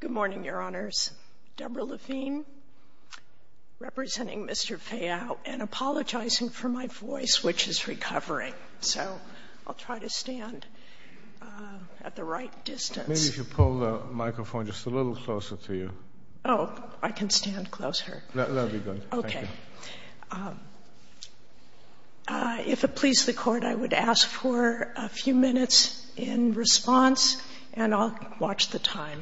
Good morning, Your Honors. Deborah Levine, representing Mr. Feao, and apologizing for my voice, which is recovering, so I'll try to stand at the right distance. Maybe if you pull the microphone just a little closer to you. Oh, I can stand closer. That'll be good, thank you. Okay. If it please the Court, I would ask for a few minutes in response, and I'll watch the time.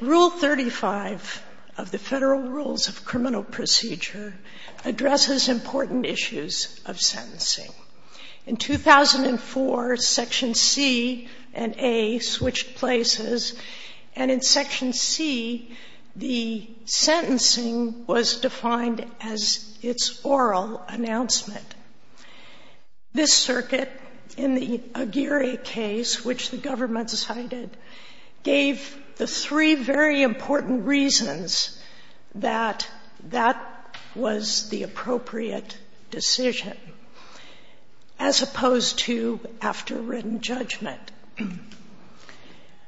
Rule 35 of the Federal Rules of Criminal Procedure addresses important issues of sentencing. In 2004, Section C and A switched places, and in Section C, the sentencing was defined as its oral announcement. This circuit in the Aguirre case, which the government decided, gave the three very important reasons that that was the appropriate decision, as opposed to after written judgment.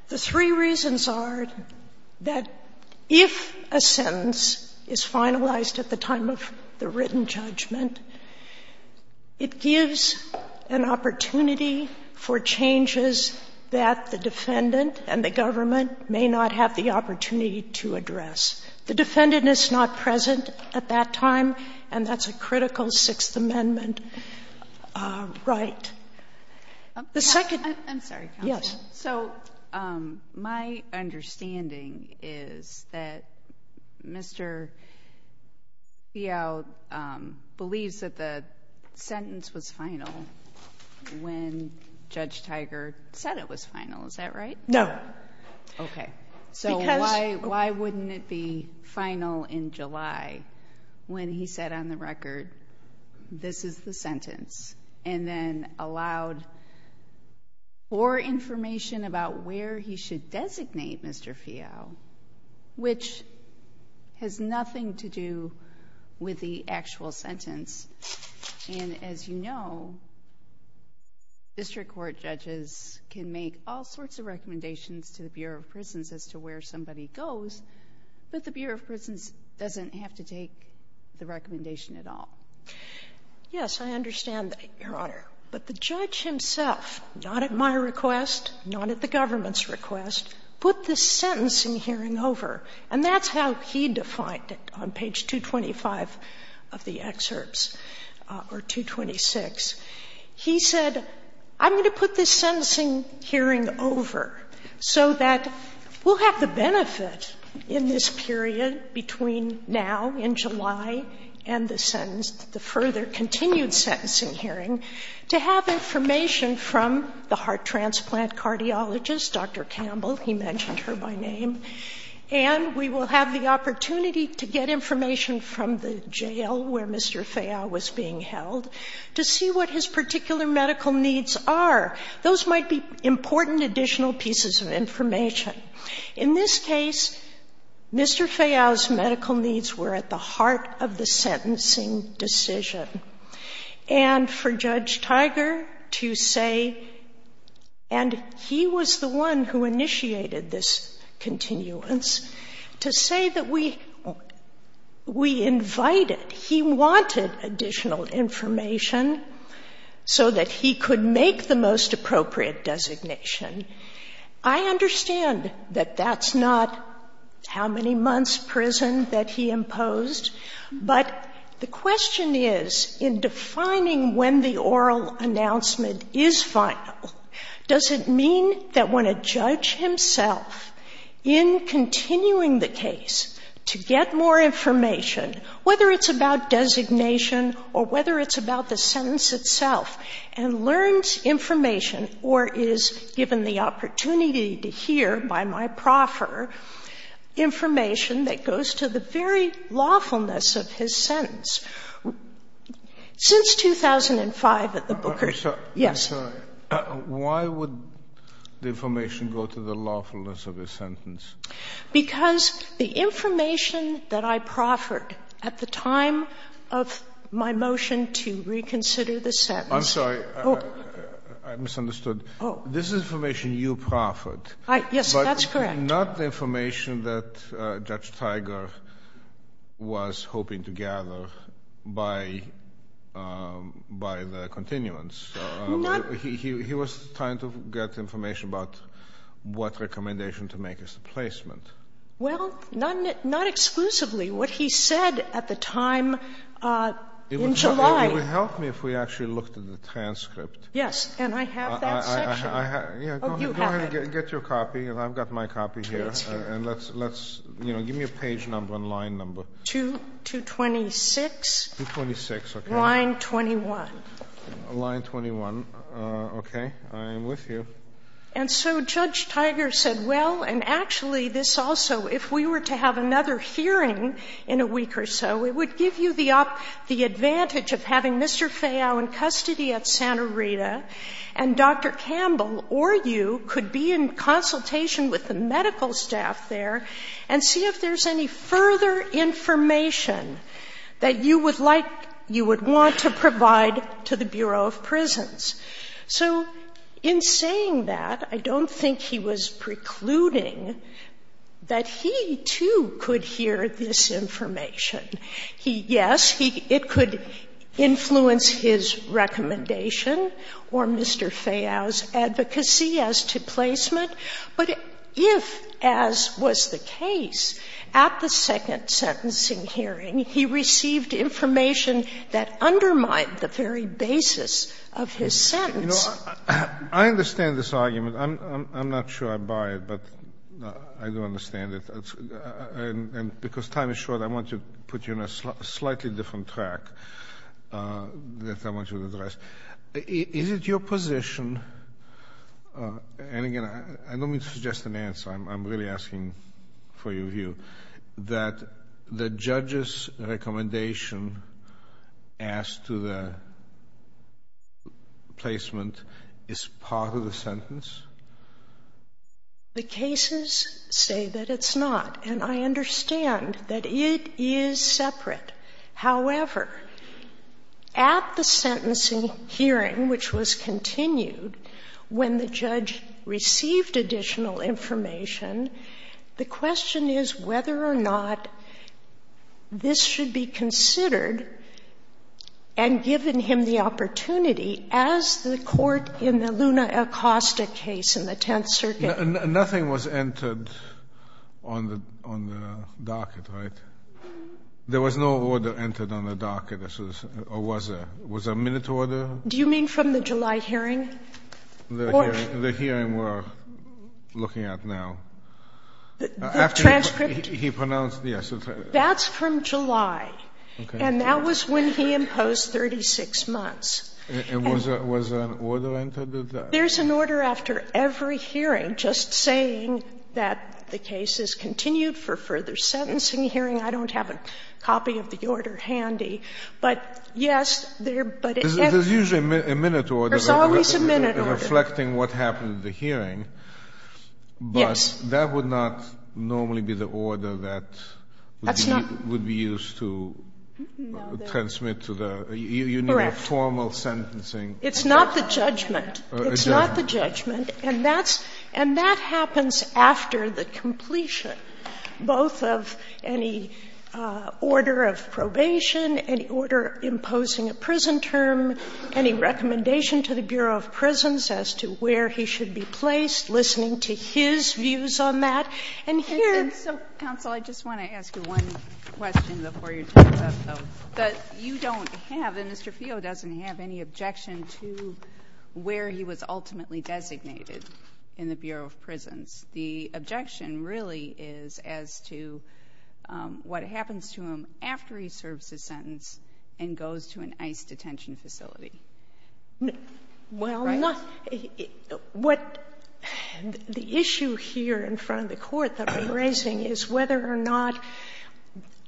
The three reasons are that if a sentence is finalized at the time of the written judgment, it gives an opportunity for changes that the defendant and the government may not have the opportunity to address. The defendant is not present at that time, and that's a critical Sixth Amendment right. I'm sorry, counsel. Yes. So, my understanding is that Mr. Feao believes that the sentence is finalized at the time when Judge Tiger said it was final, is that right? No. So why wouldn't it be final in July, when he said on the record, this is the sentence, and then allowed more information about where he should designate Mr. Feao, which has nothing to do with the actual sentence? And as you know, district court judges can make all sorts of recommendations to the Bureau of Prisons as to where somebody goes, but the Bureau of Prisons doesn't have to take the recommendation at all. Yes, I understand that, Your Honor. But the judge himself, not at my request, not at the time, on page 225 of the excerpts, or 226, he said, I'm going to put this sentencing hearing over so that we'll have the benefit in this period between now, in July, and the further continued sentencing hearing to have information from the heart transplant cardiologist, Dr. Campbell, he mentioned her by name, and we will have the opportunity to get information from the jail where Mr. Feao was being held to see what his particular medical needs are. Those might be important additional pieces of information. In this case, Mr. Feao's medical needs were at the heart of the sentencing decision. And for Judge Tiger to say, and he was the one who initiated this continuance, to say that we invited, he wanted additional information so that he could make the most appropriate designation. I understand that that's not how many months' prison that he imposed, but the question is, in defining when the oral announcement is final, does it mean that when a judge himself, in continuing the case to get more information, whether it's about designation or whether it's about the sentence itself, and learns information or is given the opportunity to hear by my proffer, information that goes to the very lawfulness of his sentence. Since 2005 at the Booker, yes. I'm sorry. Why would the information go to the lawfulness of his sentence? Because the information that I proffered at the time of my motion to reconsider the sentence I'm sorry. I misunderstood. This is information you proffered. Yes, that's correct. Not the information that Judge Tiger was hoping to gather by the continuance. He was trying to get information about what recommendation to make as a placement. Well, not exclusively. What he said at the time in July And it would help me if we actually looked at the transcript. Yes. And I have that section. I have, yeah. Go ahead. Go ahead and get your copy, and I've got my copy here. And let's, you know, give me a page number and line number. 226. 226, okay. Line 21. Line 21. Okay. I am with you. And so Judge Tiger said, well, and actually this also, if we were to have another hearing in a week or so, it would give you the advantage of having Mr. Fayot in custody at Santa Rita, and Dr. Campbell or you could be in consultation with the medical staff there and see if there's any further information that you would like, you would want to provide to the Bureau of Prisons. So in saying that, I don't think he was precluding that he, too, could hear that the Bureau of Prisons could hear this information. He, yes, it could influence his recommendation or Mr. Fayot's advocacy as to placement, but if, as was the case, at the second sentencing hearing, he received information that undermined the very basis of his sentence. You know, I understand this argument. I'm not sure I buy it, but I do understand it, and because time is short, I want to put you on a slightly different track that I want you to address. Is it your position, and again, I don't mean to suggest an answer, I'm really asking for your view, that the judge's recommendation as to the placement is part of the sentence? The cases say that it's not, and I understand that it is separate. However, at the sentencing hearing, which was continued, when the judge received additional information, the question is whether or not this should be considered and given him the opportunity as the court in the Luna Acosta case in the Tenth Circuit. Nothing was entered on the docket, right? There was no order entered on the docket, or was there? Was there a minute order? Do you mean from the July hearing? Or the hearing we're looking at now? After he pronounced the esoteric? That's from July, and that was when he imposed 36 months. And was there an order entered at that? There's an order after every hearing just saying that the case is continued for further sentencing hearing. I don't have a copy of the order handy, but yes, there, but it's usually a minute order. There's always a minute order. Reflecting what happened at the hearing. Yes. But that would not normally be the order that would be used to transmit to the unit of formal sentencing. It's not the judgment. It's not the judgment, and that's – and that happens after the completion, both of any order of probation, any order imposing a prison term, any recommendation to the Bureau of Prisons as to where he should be placed, listening to his views on that. And here – And so, counsel, I just want to ask you one question before you turn it up, though. That you don't have, and Mr. Feo doesn't have any objection to where he was ultimately designated in the Bureau of Prisons. The objection really is as to what happens to him after he serves his sentence and goes to an ICE detention facility. Well, not – what – the issue here in front of the Court that I'm raising is whether or not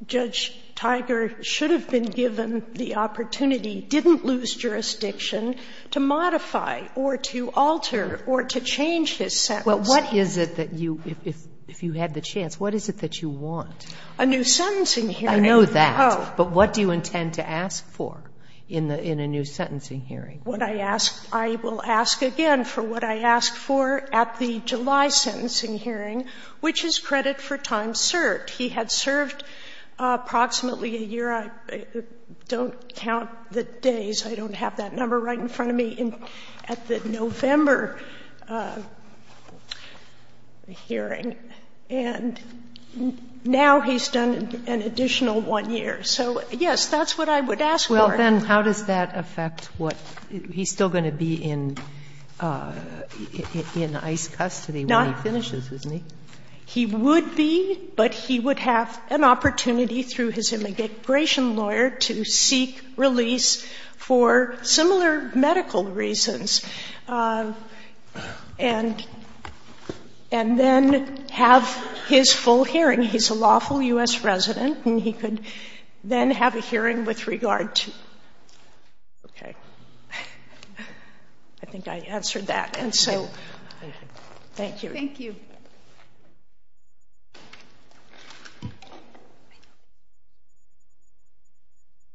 Judge Tiger should have been given the opportunity, didn't lose jurisdiction, to modify or to alter or to change his sentence. Well, what is it that you – if you had the chance, what is it that you want? A new sentencing hearing. I know that. Oh. But what do you intend to ask for in a new sentencing hearing? What I ask – I will ask again for what I asked for at the July sentencing hearing, which is credit for time served. He had served approximately a year – I don't count the days, I don't have that number right in front of me – at the November hearing, and now he's done an additional one year. So, yes, that's what I would ask for. Well, then, how does that affect what – he's still going to be in ICE custody when he finishes, isn't he? He would be, but he would have an opportunity through his immigration lawyer to seek release for similar medical reasons and then have his full hearing. And he's a lawful U.S. resident, and he could then have a hearing with regard to – okay. I think I answered that, and so, thank you. Thank you.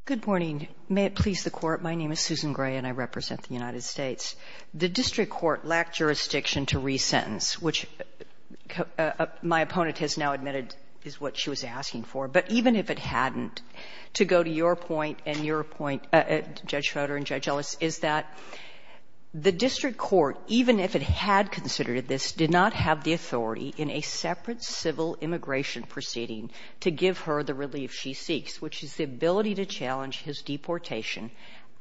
Good morning. May it please the Court, my name is Susan Gray and I represent the United States. The district court lacked jurisdiction to resentence, which my opponent has now admitted is what she was asking for. But even if it hadn't, to go to your point and your point, Judge Schroeder and Judge Ellis, is that the district court, even if it had considered this, did not have the authority in a separate civil immigration proceeding to give her the relief she seeks, which is the ability to challenge his deportation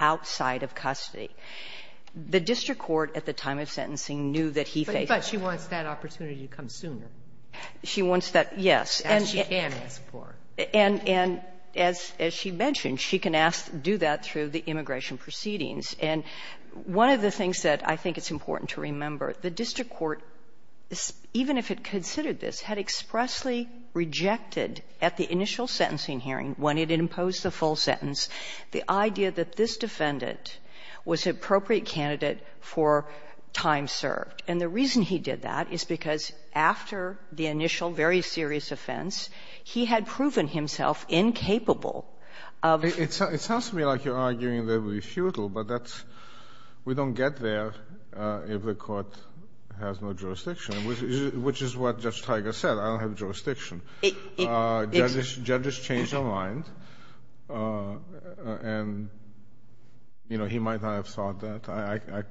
outside of custody. The district court at the time of sentencing knew that he faced that. But she wants that opportunity to come sooner. She wants that, yes. As she can ask for. And as she mentioned, she can ask to do that through the immigration proceedings. And one of the things that I think is important to remember, the district court, even if it considered this, had expressly rejected at the initial sentencing hearing, when it imposed the full sentence, the idea that this defendant was an appropriate candidate for time served. And the reason he did that is because after the initial very serious offense, he had proven himself incapable of ---- It sounds to me like you're arguing that it would be futile, but that's we don't get there if the Court has no jurisdiction, which is what Judge Tiger said. I don't have jurisdiction. Judges change their mind. And, you know, he might not have thought that.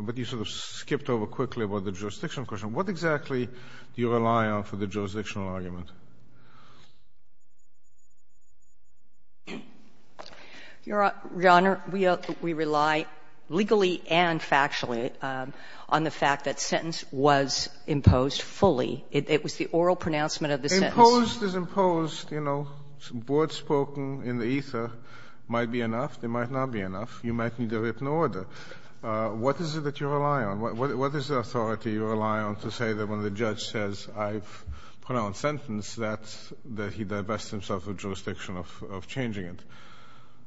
But you sort of skipped over quickly about the jurisdiction question. What exactly do you rely on for the jurisdictional argument? Your Honor, we rely legally and factually on the fact that sentence was imposed fully. It was the oral pronouncement of the sentence. Imposed is imposed. You know, words spoken in the ether might be enough. They might not be enough. You might need a written order. What is it that you rely on? What is the authority you rely on to say that when the judge says, I've pronounced sentence, that he divests himself of jurisdiction of changing it?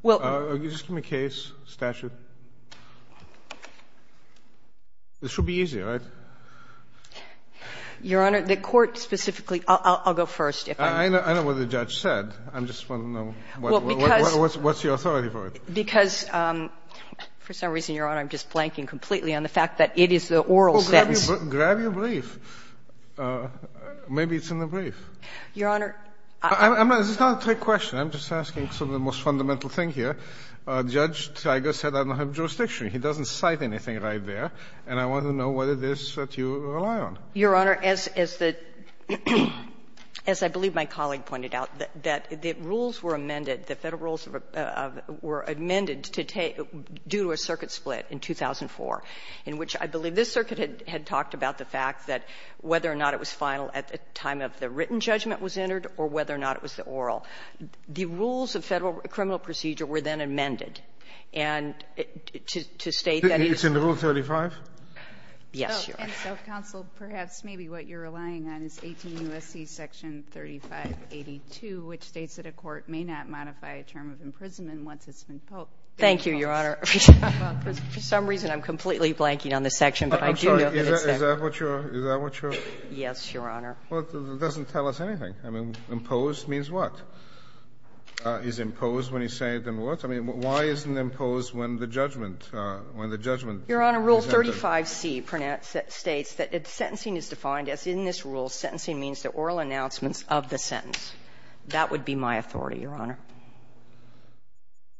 Well, you just give me a case, statute. This should be easy, right? Your Honor, the Court specifically – I'll go first. I know what the judge said. I just want to know what's your authority for it. Because for some reason, Your Honor, I'm just blanking completely on the fact that it is the oral sentence. Well, grab your brief. Maybe it's in the brief. Your Honor, I'm not – This is not a trick question. I'm just asking sort of the most fundamental thing here. Judge Tiger said I don't have jurisdiction. He doesn't cite anything right there. And I want to know whether this is what you rely on. Your Honor, as the – as I believe my colleague pointed out, that the rules were amended, the Federal rules were amended to do a circuit split in 2004, in which I believe this circuit had talked about the fact that whether or not it was final at the time of the written judgment was entered or whether or not it was the oral. The rules of Federal criminal procedure were then amended. And to state that it is – It's in Rule 35? Yes, Your Honor. And so, counsel, perhaps maybe what you're relying on is 18 U.S.C. Section 3582, which states that a court may not modify a term of imprisonment once it's been posed. Thank you, Your Honor. For some reason, I'm completely blanking on this section, but I do know that it's there. I'm sorry. Is that what you're – is that what you're – Yes, Your Honor. Well, it doesn't tell us anything. I mean, imposed means what? Is imposed when he's saying it then what? I mean, why isn't it imposed when the judgment – when the judgment is entered? Your Honor, Rule 35C states that sentencing is defined as, in this rule, sentencing means the oral announcements of the sentence. That would be my authority, Your Honor.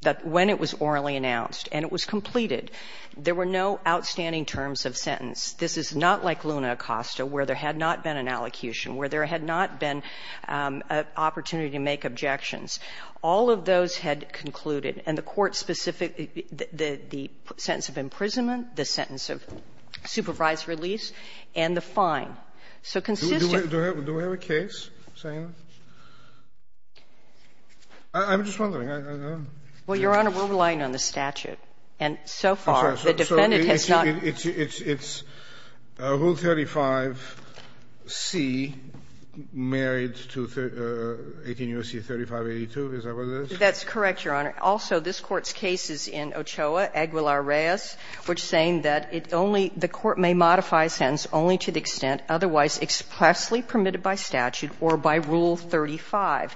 That when it was orally announced and it was completed, there were no outstanding terms of sentence. This is not like Luna Acosta, where there had not been an allocution, where there had not been an opportunity to make objections. All of those had concluded, and the court specific – the sentence of imprisonment, the sentence of supervised release, and the fine. So consistent – Do we have a case saying that? I'm just wondering. I don't know. Well, Your Honor, we're relying on the statute. And so far, the defendant has not – It's Rule 35C married to 18 U.S.C. 3582. Is that what it is? That's correct, Your Honor. Also, this Court's case is in Ochoa, Aguilar-Reyes, which is saying that it only – the court may modify a sentence only to the extent otherwise expressly permitted by statute or by Rule 35.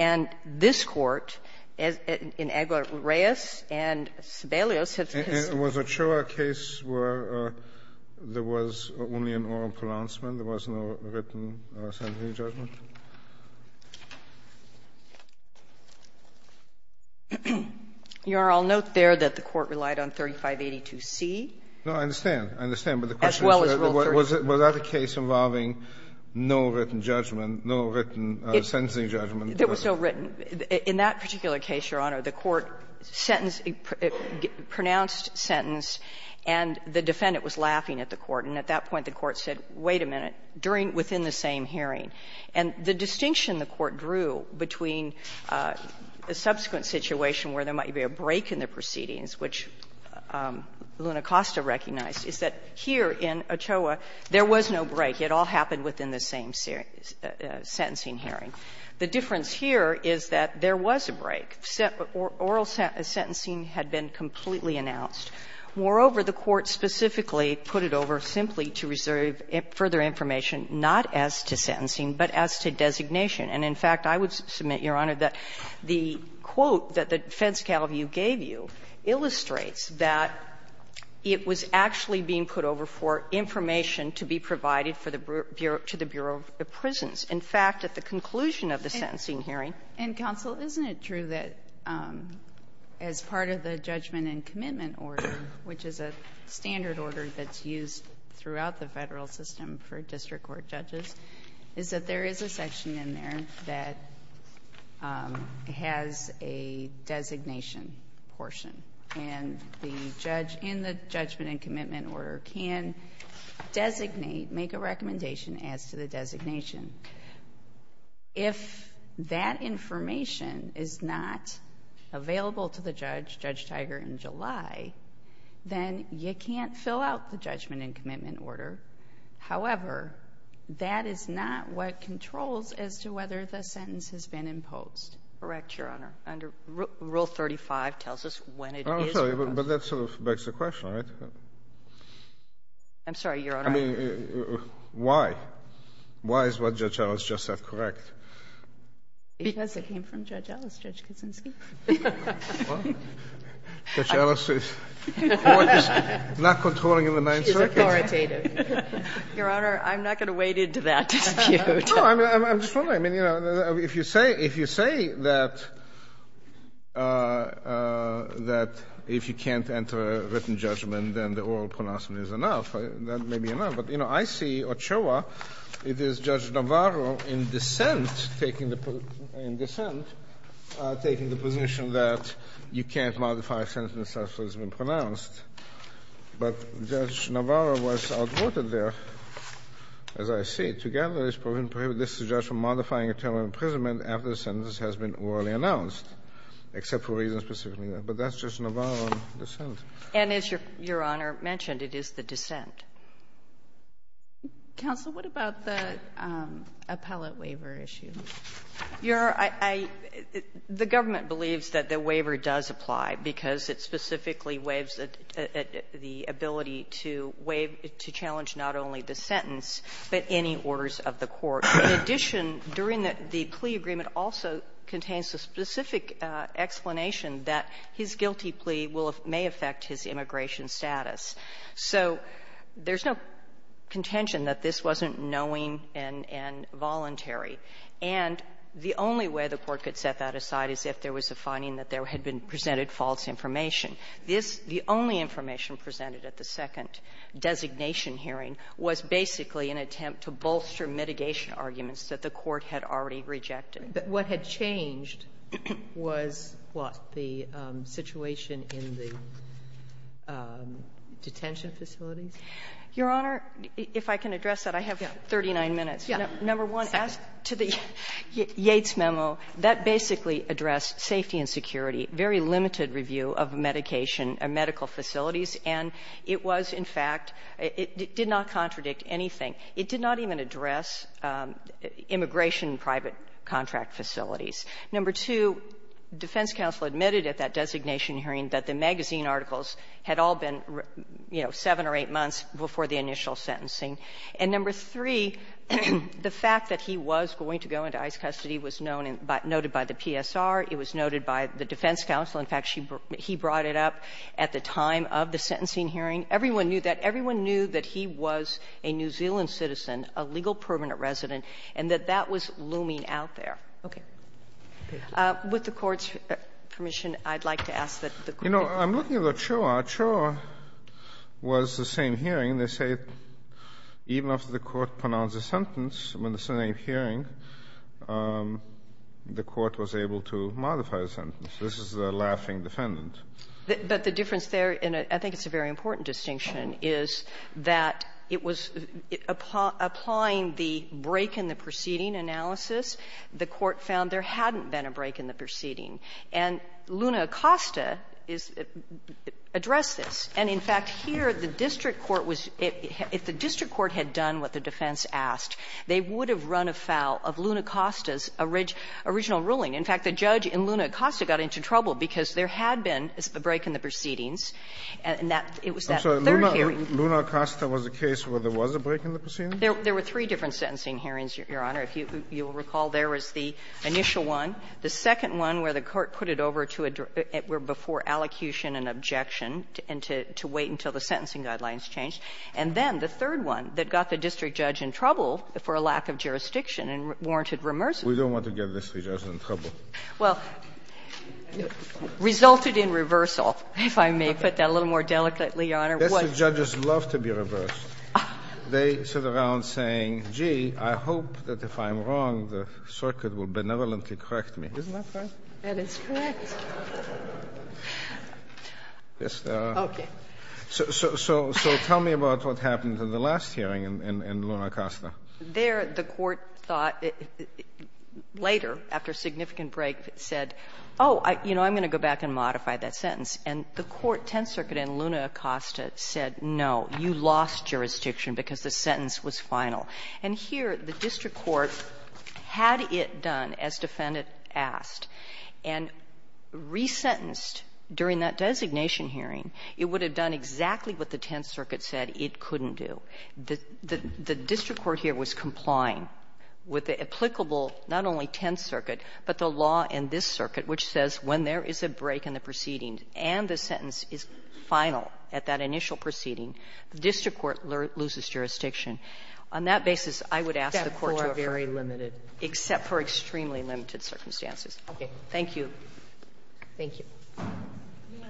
And this Court, in Aguilar-Reyes and Sebelius, has – Was Ochoa a case where there was only an oral pronouncement? There was no written sentencing judgment? Your Honor, I'll note there that the court relied on 3582C. No, I understand. I understand. But the question is – As well as Rule 35. Was that a case involving no written judgment, no written sentencing judgment? There was no written. In that particular case, Your Honor, the court sentenced a pronounced sentence and the defendant was laughing at the court. And at that point, the court said, wait a minute, during – within the same hearing. And the distinction the court drew between a subsequent situation where there might be a break in the proceedings, which Luna Costa recognized, is that here in Ochoa, there was no break. It all happened within the same sentencing hearing. The difference here is that there was a break. Oral sentencing had been completely announced. Moreover, the court specifically put it over simply to reserve further information not as to sentencing, but as to designation. And in fact, I would submit, Your Honor, that the quote that the defense calibu gave you illustrates that it was actually being put over for information to be provided for the Bureau – to the Bureau of Prisons. In fact, at the conclusion of the sentencing hearing – And counsel, isn't it true that as part of the judgment and commitment order, which is a standard order that's used throughout the Federal system for district court judges, is that there is a section in there that has a designation portion. And the judge in the judgment and commitment order can designate, make a recommendation as to the designation. If that information is not available to the judge, Judge Tiger, in July, then you can't fill out the judgment and commitment order. However, that is not what controls as to whether the sentence has been imposed. Correct, Your Honor. Under Rule 35 tells us when it is imposed. But that sort of begs the question, right? I'm sorry, Your Honor. I mean, why? Why is what Judge Ellis just said correct? Because it came from Judge Ellis, Judge Kuczynski. Well, Judge Ellis is not controlling in the Ninth Circuit. She's authoritative. Your Honor, I'm not going to wade into that dispute. No, I'm just wondering. I mean, you know, if you say – if you say that – that if you can't enter a written judgment, then the oral pronouncement is enough. That may be enough. But, you know, I see Ochoa, it is Judge Navarro in dissent, taking the – in dissent, taking the position that you can't modify a sentence after it's been pronounced. But Judge Navarro was outvoted there, as I see it. To gather this provision, prohibit this judge from modifying a term of imprisonment after the sentence has been orally announced, except for reasons specifically there. But that's Judge Navarro in dissent. And as Your Honor mentioned, it is the dissent. Counsel, what about the appellate waiver issue? Your – I – the government believes that the waiver does apply because it specifically waives the ability to waive – to challenge not only the sentence, but any orders of the court. In addition, during the plea agreement also contains a specific explanation that his guilty plea will – may affect his immigration status. So there's no contention that this wasn't knowing and – and voluntary. And the only way the Court could set that aside is if there was a finding that there had been presented false information. This – the only information presented at the second designation hearing was basically an attempt to bolster mitigation arguments that the Court had already rejected. What had changed was what? The situation in the detention facilities? Your Honor, if I can address that, I have 39 minutes. Number one, ask to the Yates memo. That basically addressed safety and security. Very limited review of medication and medical facilities. And it was, in fact, it did not contradict anything. It did not even address immigration private contract facilities. Number two, defense counsel admitted at that designation hearing that the magazine articles had all been, you know, seven or eight months before the initial sentencing. And number three, the fact that he was going to go into ICE custody was known and noted by the PSR. It was noted by the defense counsel. In fact, she – he brought it up at the time of the sentencing hearing. Everyone knew that. But everyone knew that he was a New Zealand citizen, a legal permanent resident, and that that was looming out there. Okay. With the Court's permission, I'd like to ask that the Court – You know, I'm looking at the CHOA. CHOA was the same hearing. They say even after the Court pronounced a sentence, when it's the same hearing, the Court was able to modify the sentence. This is the laughing defendant. But the difference there, and I think it's a very important distinction, is that it was applying the break in the proceeding analysis. The Court found there hadn't been a break in the proceeding. And Luna Acosta is – addressed this. And, in fact, here the district court was – if the district court had done what the defense asked, they would have run afoul of Luna Acosta's original ruling. In fact, the judge in Luna Acosta got into trouble because there had been a break in the proceedings, and that – it was that third hearing. I'm sorry. Luna Acosta was the case where there was a break in the proceedings? There were three different sentencing hearings, Your Honor. If you will recall, there was the initial one, the second one where the Court put it over to a – before allocution and objection, and to wait until the sentencing guidelines changed, and then the third one that got the district judge in trouble for a lack of jurisdiction and warranted remersive. We don't want to get this district judge in trouble. Well, resulted in reversal, if I may put that a little more delicately, Your Honor. Yes, the judges love to be reversed. They sit around saying, gee, I hope that if I'm wrong, the circuit will benevolently correct me. Isn't that right? That is correct. Yes, there are. Okay. So tell me about what happened in the last hearing in Luna Acosta. There, the Court thought later, after a significant break, said, oh, you know, I'm going to go back and modify that sentence. And the Court, Tenth Circuit and Luna Acosta, said, no, you lost jurisdiction because the sentence was final. And here, the district court had it done, as defendant asked, and resentenced during that designation hearing, it would have done exactly what the Tenth Circuit said it couldn't do. The district court here was complying with the applicable, not only Tenth Circuit, but the law in this circuit, which says when there is a break in the proceeding and the sentence is final at that initial proceeding, the district court loses jurisdiction. On that basis, I would ask the Court to refer. Except for a very limited. Except for extremely limited circumstances. Okay. Thank you. Thank you. May I?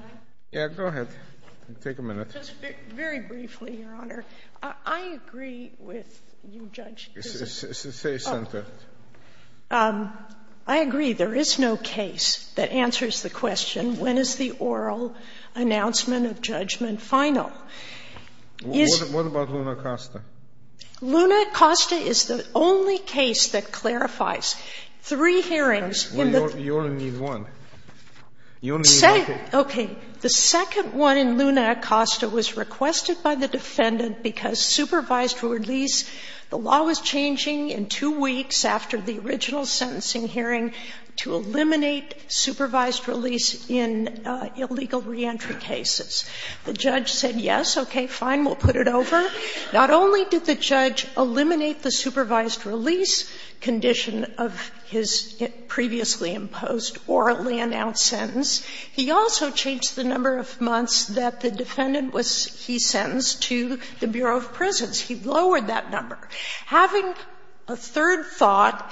Yes, go ahead. Take a minute. Just very briefly, Your Honor. I agree with you, Judge. Stay centered. I agree. There is no case that answers the question, when is the oral announcement of judgment final? What about Luna Acosta? Luna Acosta is the only case that clarifies three hearings in the. You only need one. You only need one case. Okay. The second one in Luna Acosta was requested by the defendant because supervised release, the law was changing in two weeks after the original sentencing hearing to eliminate supervised release in illegal reentry cases. The judge said yes, okay, fine, we'll put it over. Not only did the judge eliminate the supervised release condition of his previously imposed orally announced sentence, he also changed the number of months that the defendant was, he sentenced to the Bureau of Prisons. He lowered that number. Having a third thought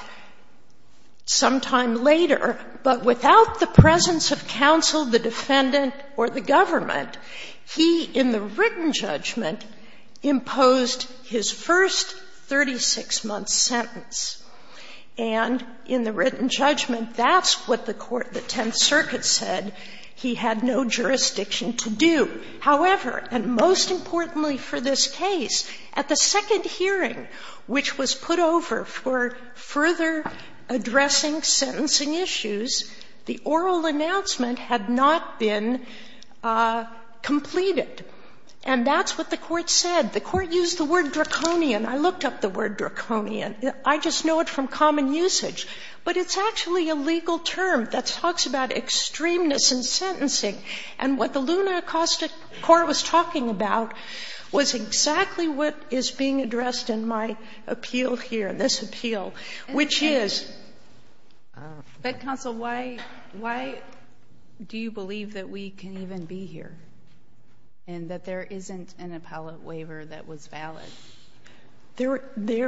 sometime later, but without the presence of counsel, the defendant, or the government, he, in the written judgment, imposed his first 36-month sentence. And in the written judgment, that's what the court, the Tenth Circuit, said he had no jurisdiction to do. However, and most importantly for this case, at the second hearing, which was put over for further addressing sentencing issues, the oral announcement had not been completed. And that's what the court said. The court used the word draconian. I looked up the word draconian. I just know it from common usage. But it's actually a legal term that talks about extremeness in sentencing. And what the Luna Acoustic Court was talking about was exactly what is being addressed in my appeal here, this appeal, which is... But counsel, why do you believe that we can even be here and that there isn't an appellate waiver that was valid? There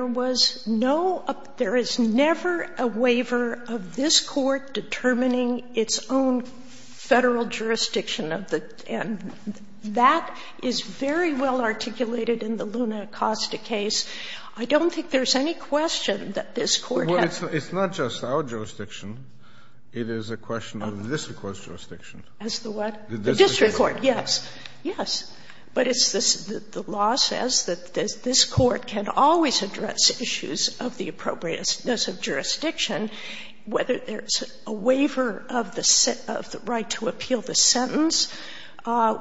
was no, there is never a waiver of this court determining its own Federal jurisdiction of the, and that is very well articulated in the Luna Acoustic case. I don't think there's any question that this court has. It's not just our jurisdiction. It is a question of the district court's jurisdiction. As the what? The district court, yes. Yes. But it's this, the law says that this court can always address issues of the appropriateness of jurisdiction, whether there's a waiver of the right to appeal the sentence,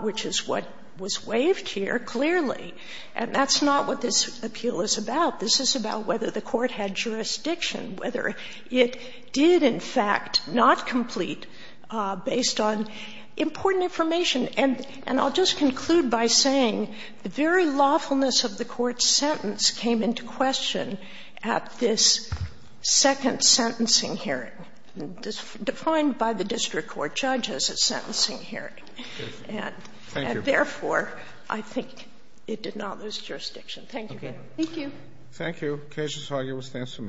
which is what was waived here, clearly. And that's not what this appeal is about. This is about whether the court had jurisdiction, whether it did in fact not complete based on important information. And I'll just conclude by saying the very lawfulness of the court's sentence came into question at this second sentencing hearing, defined by the district court judge as a sentencing hearing. Thank you. And therefore, I think it did not lose jurisdiction. Thank you. Okay. Thank you. Thank you.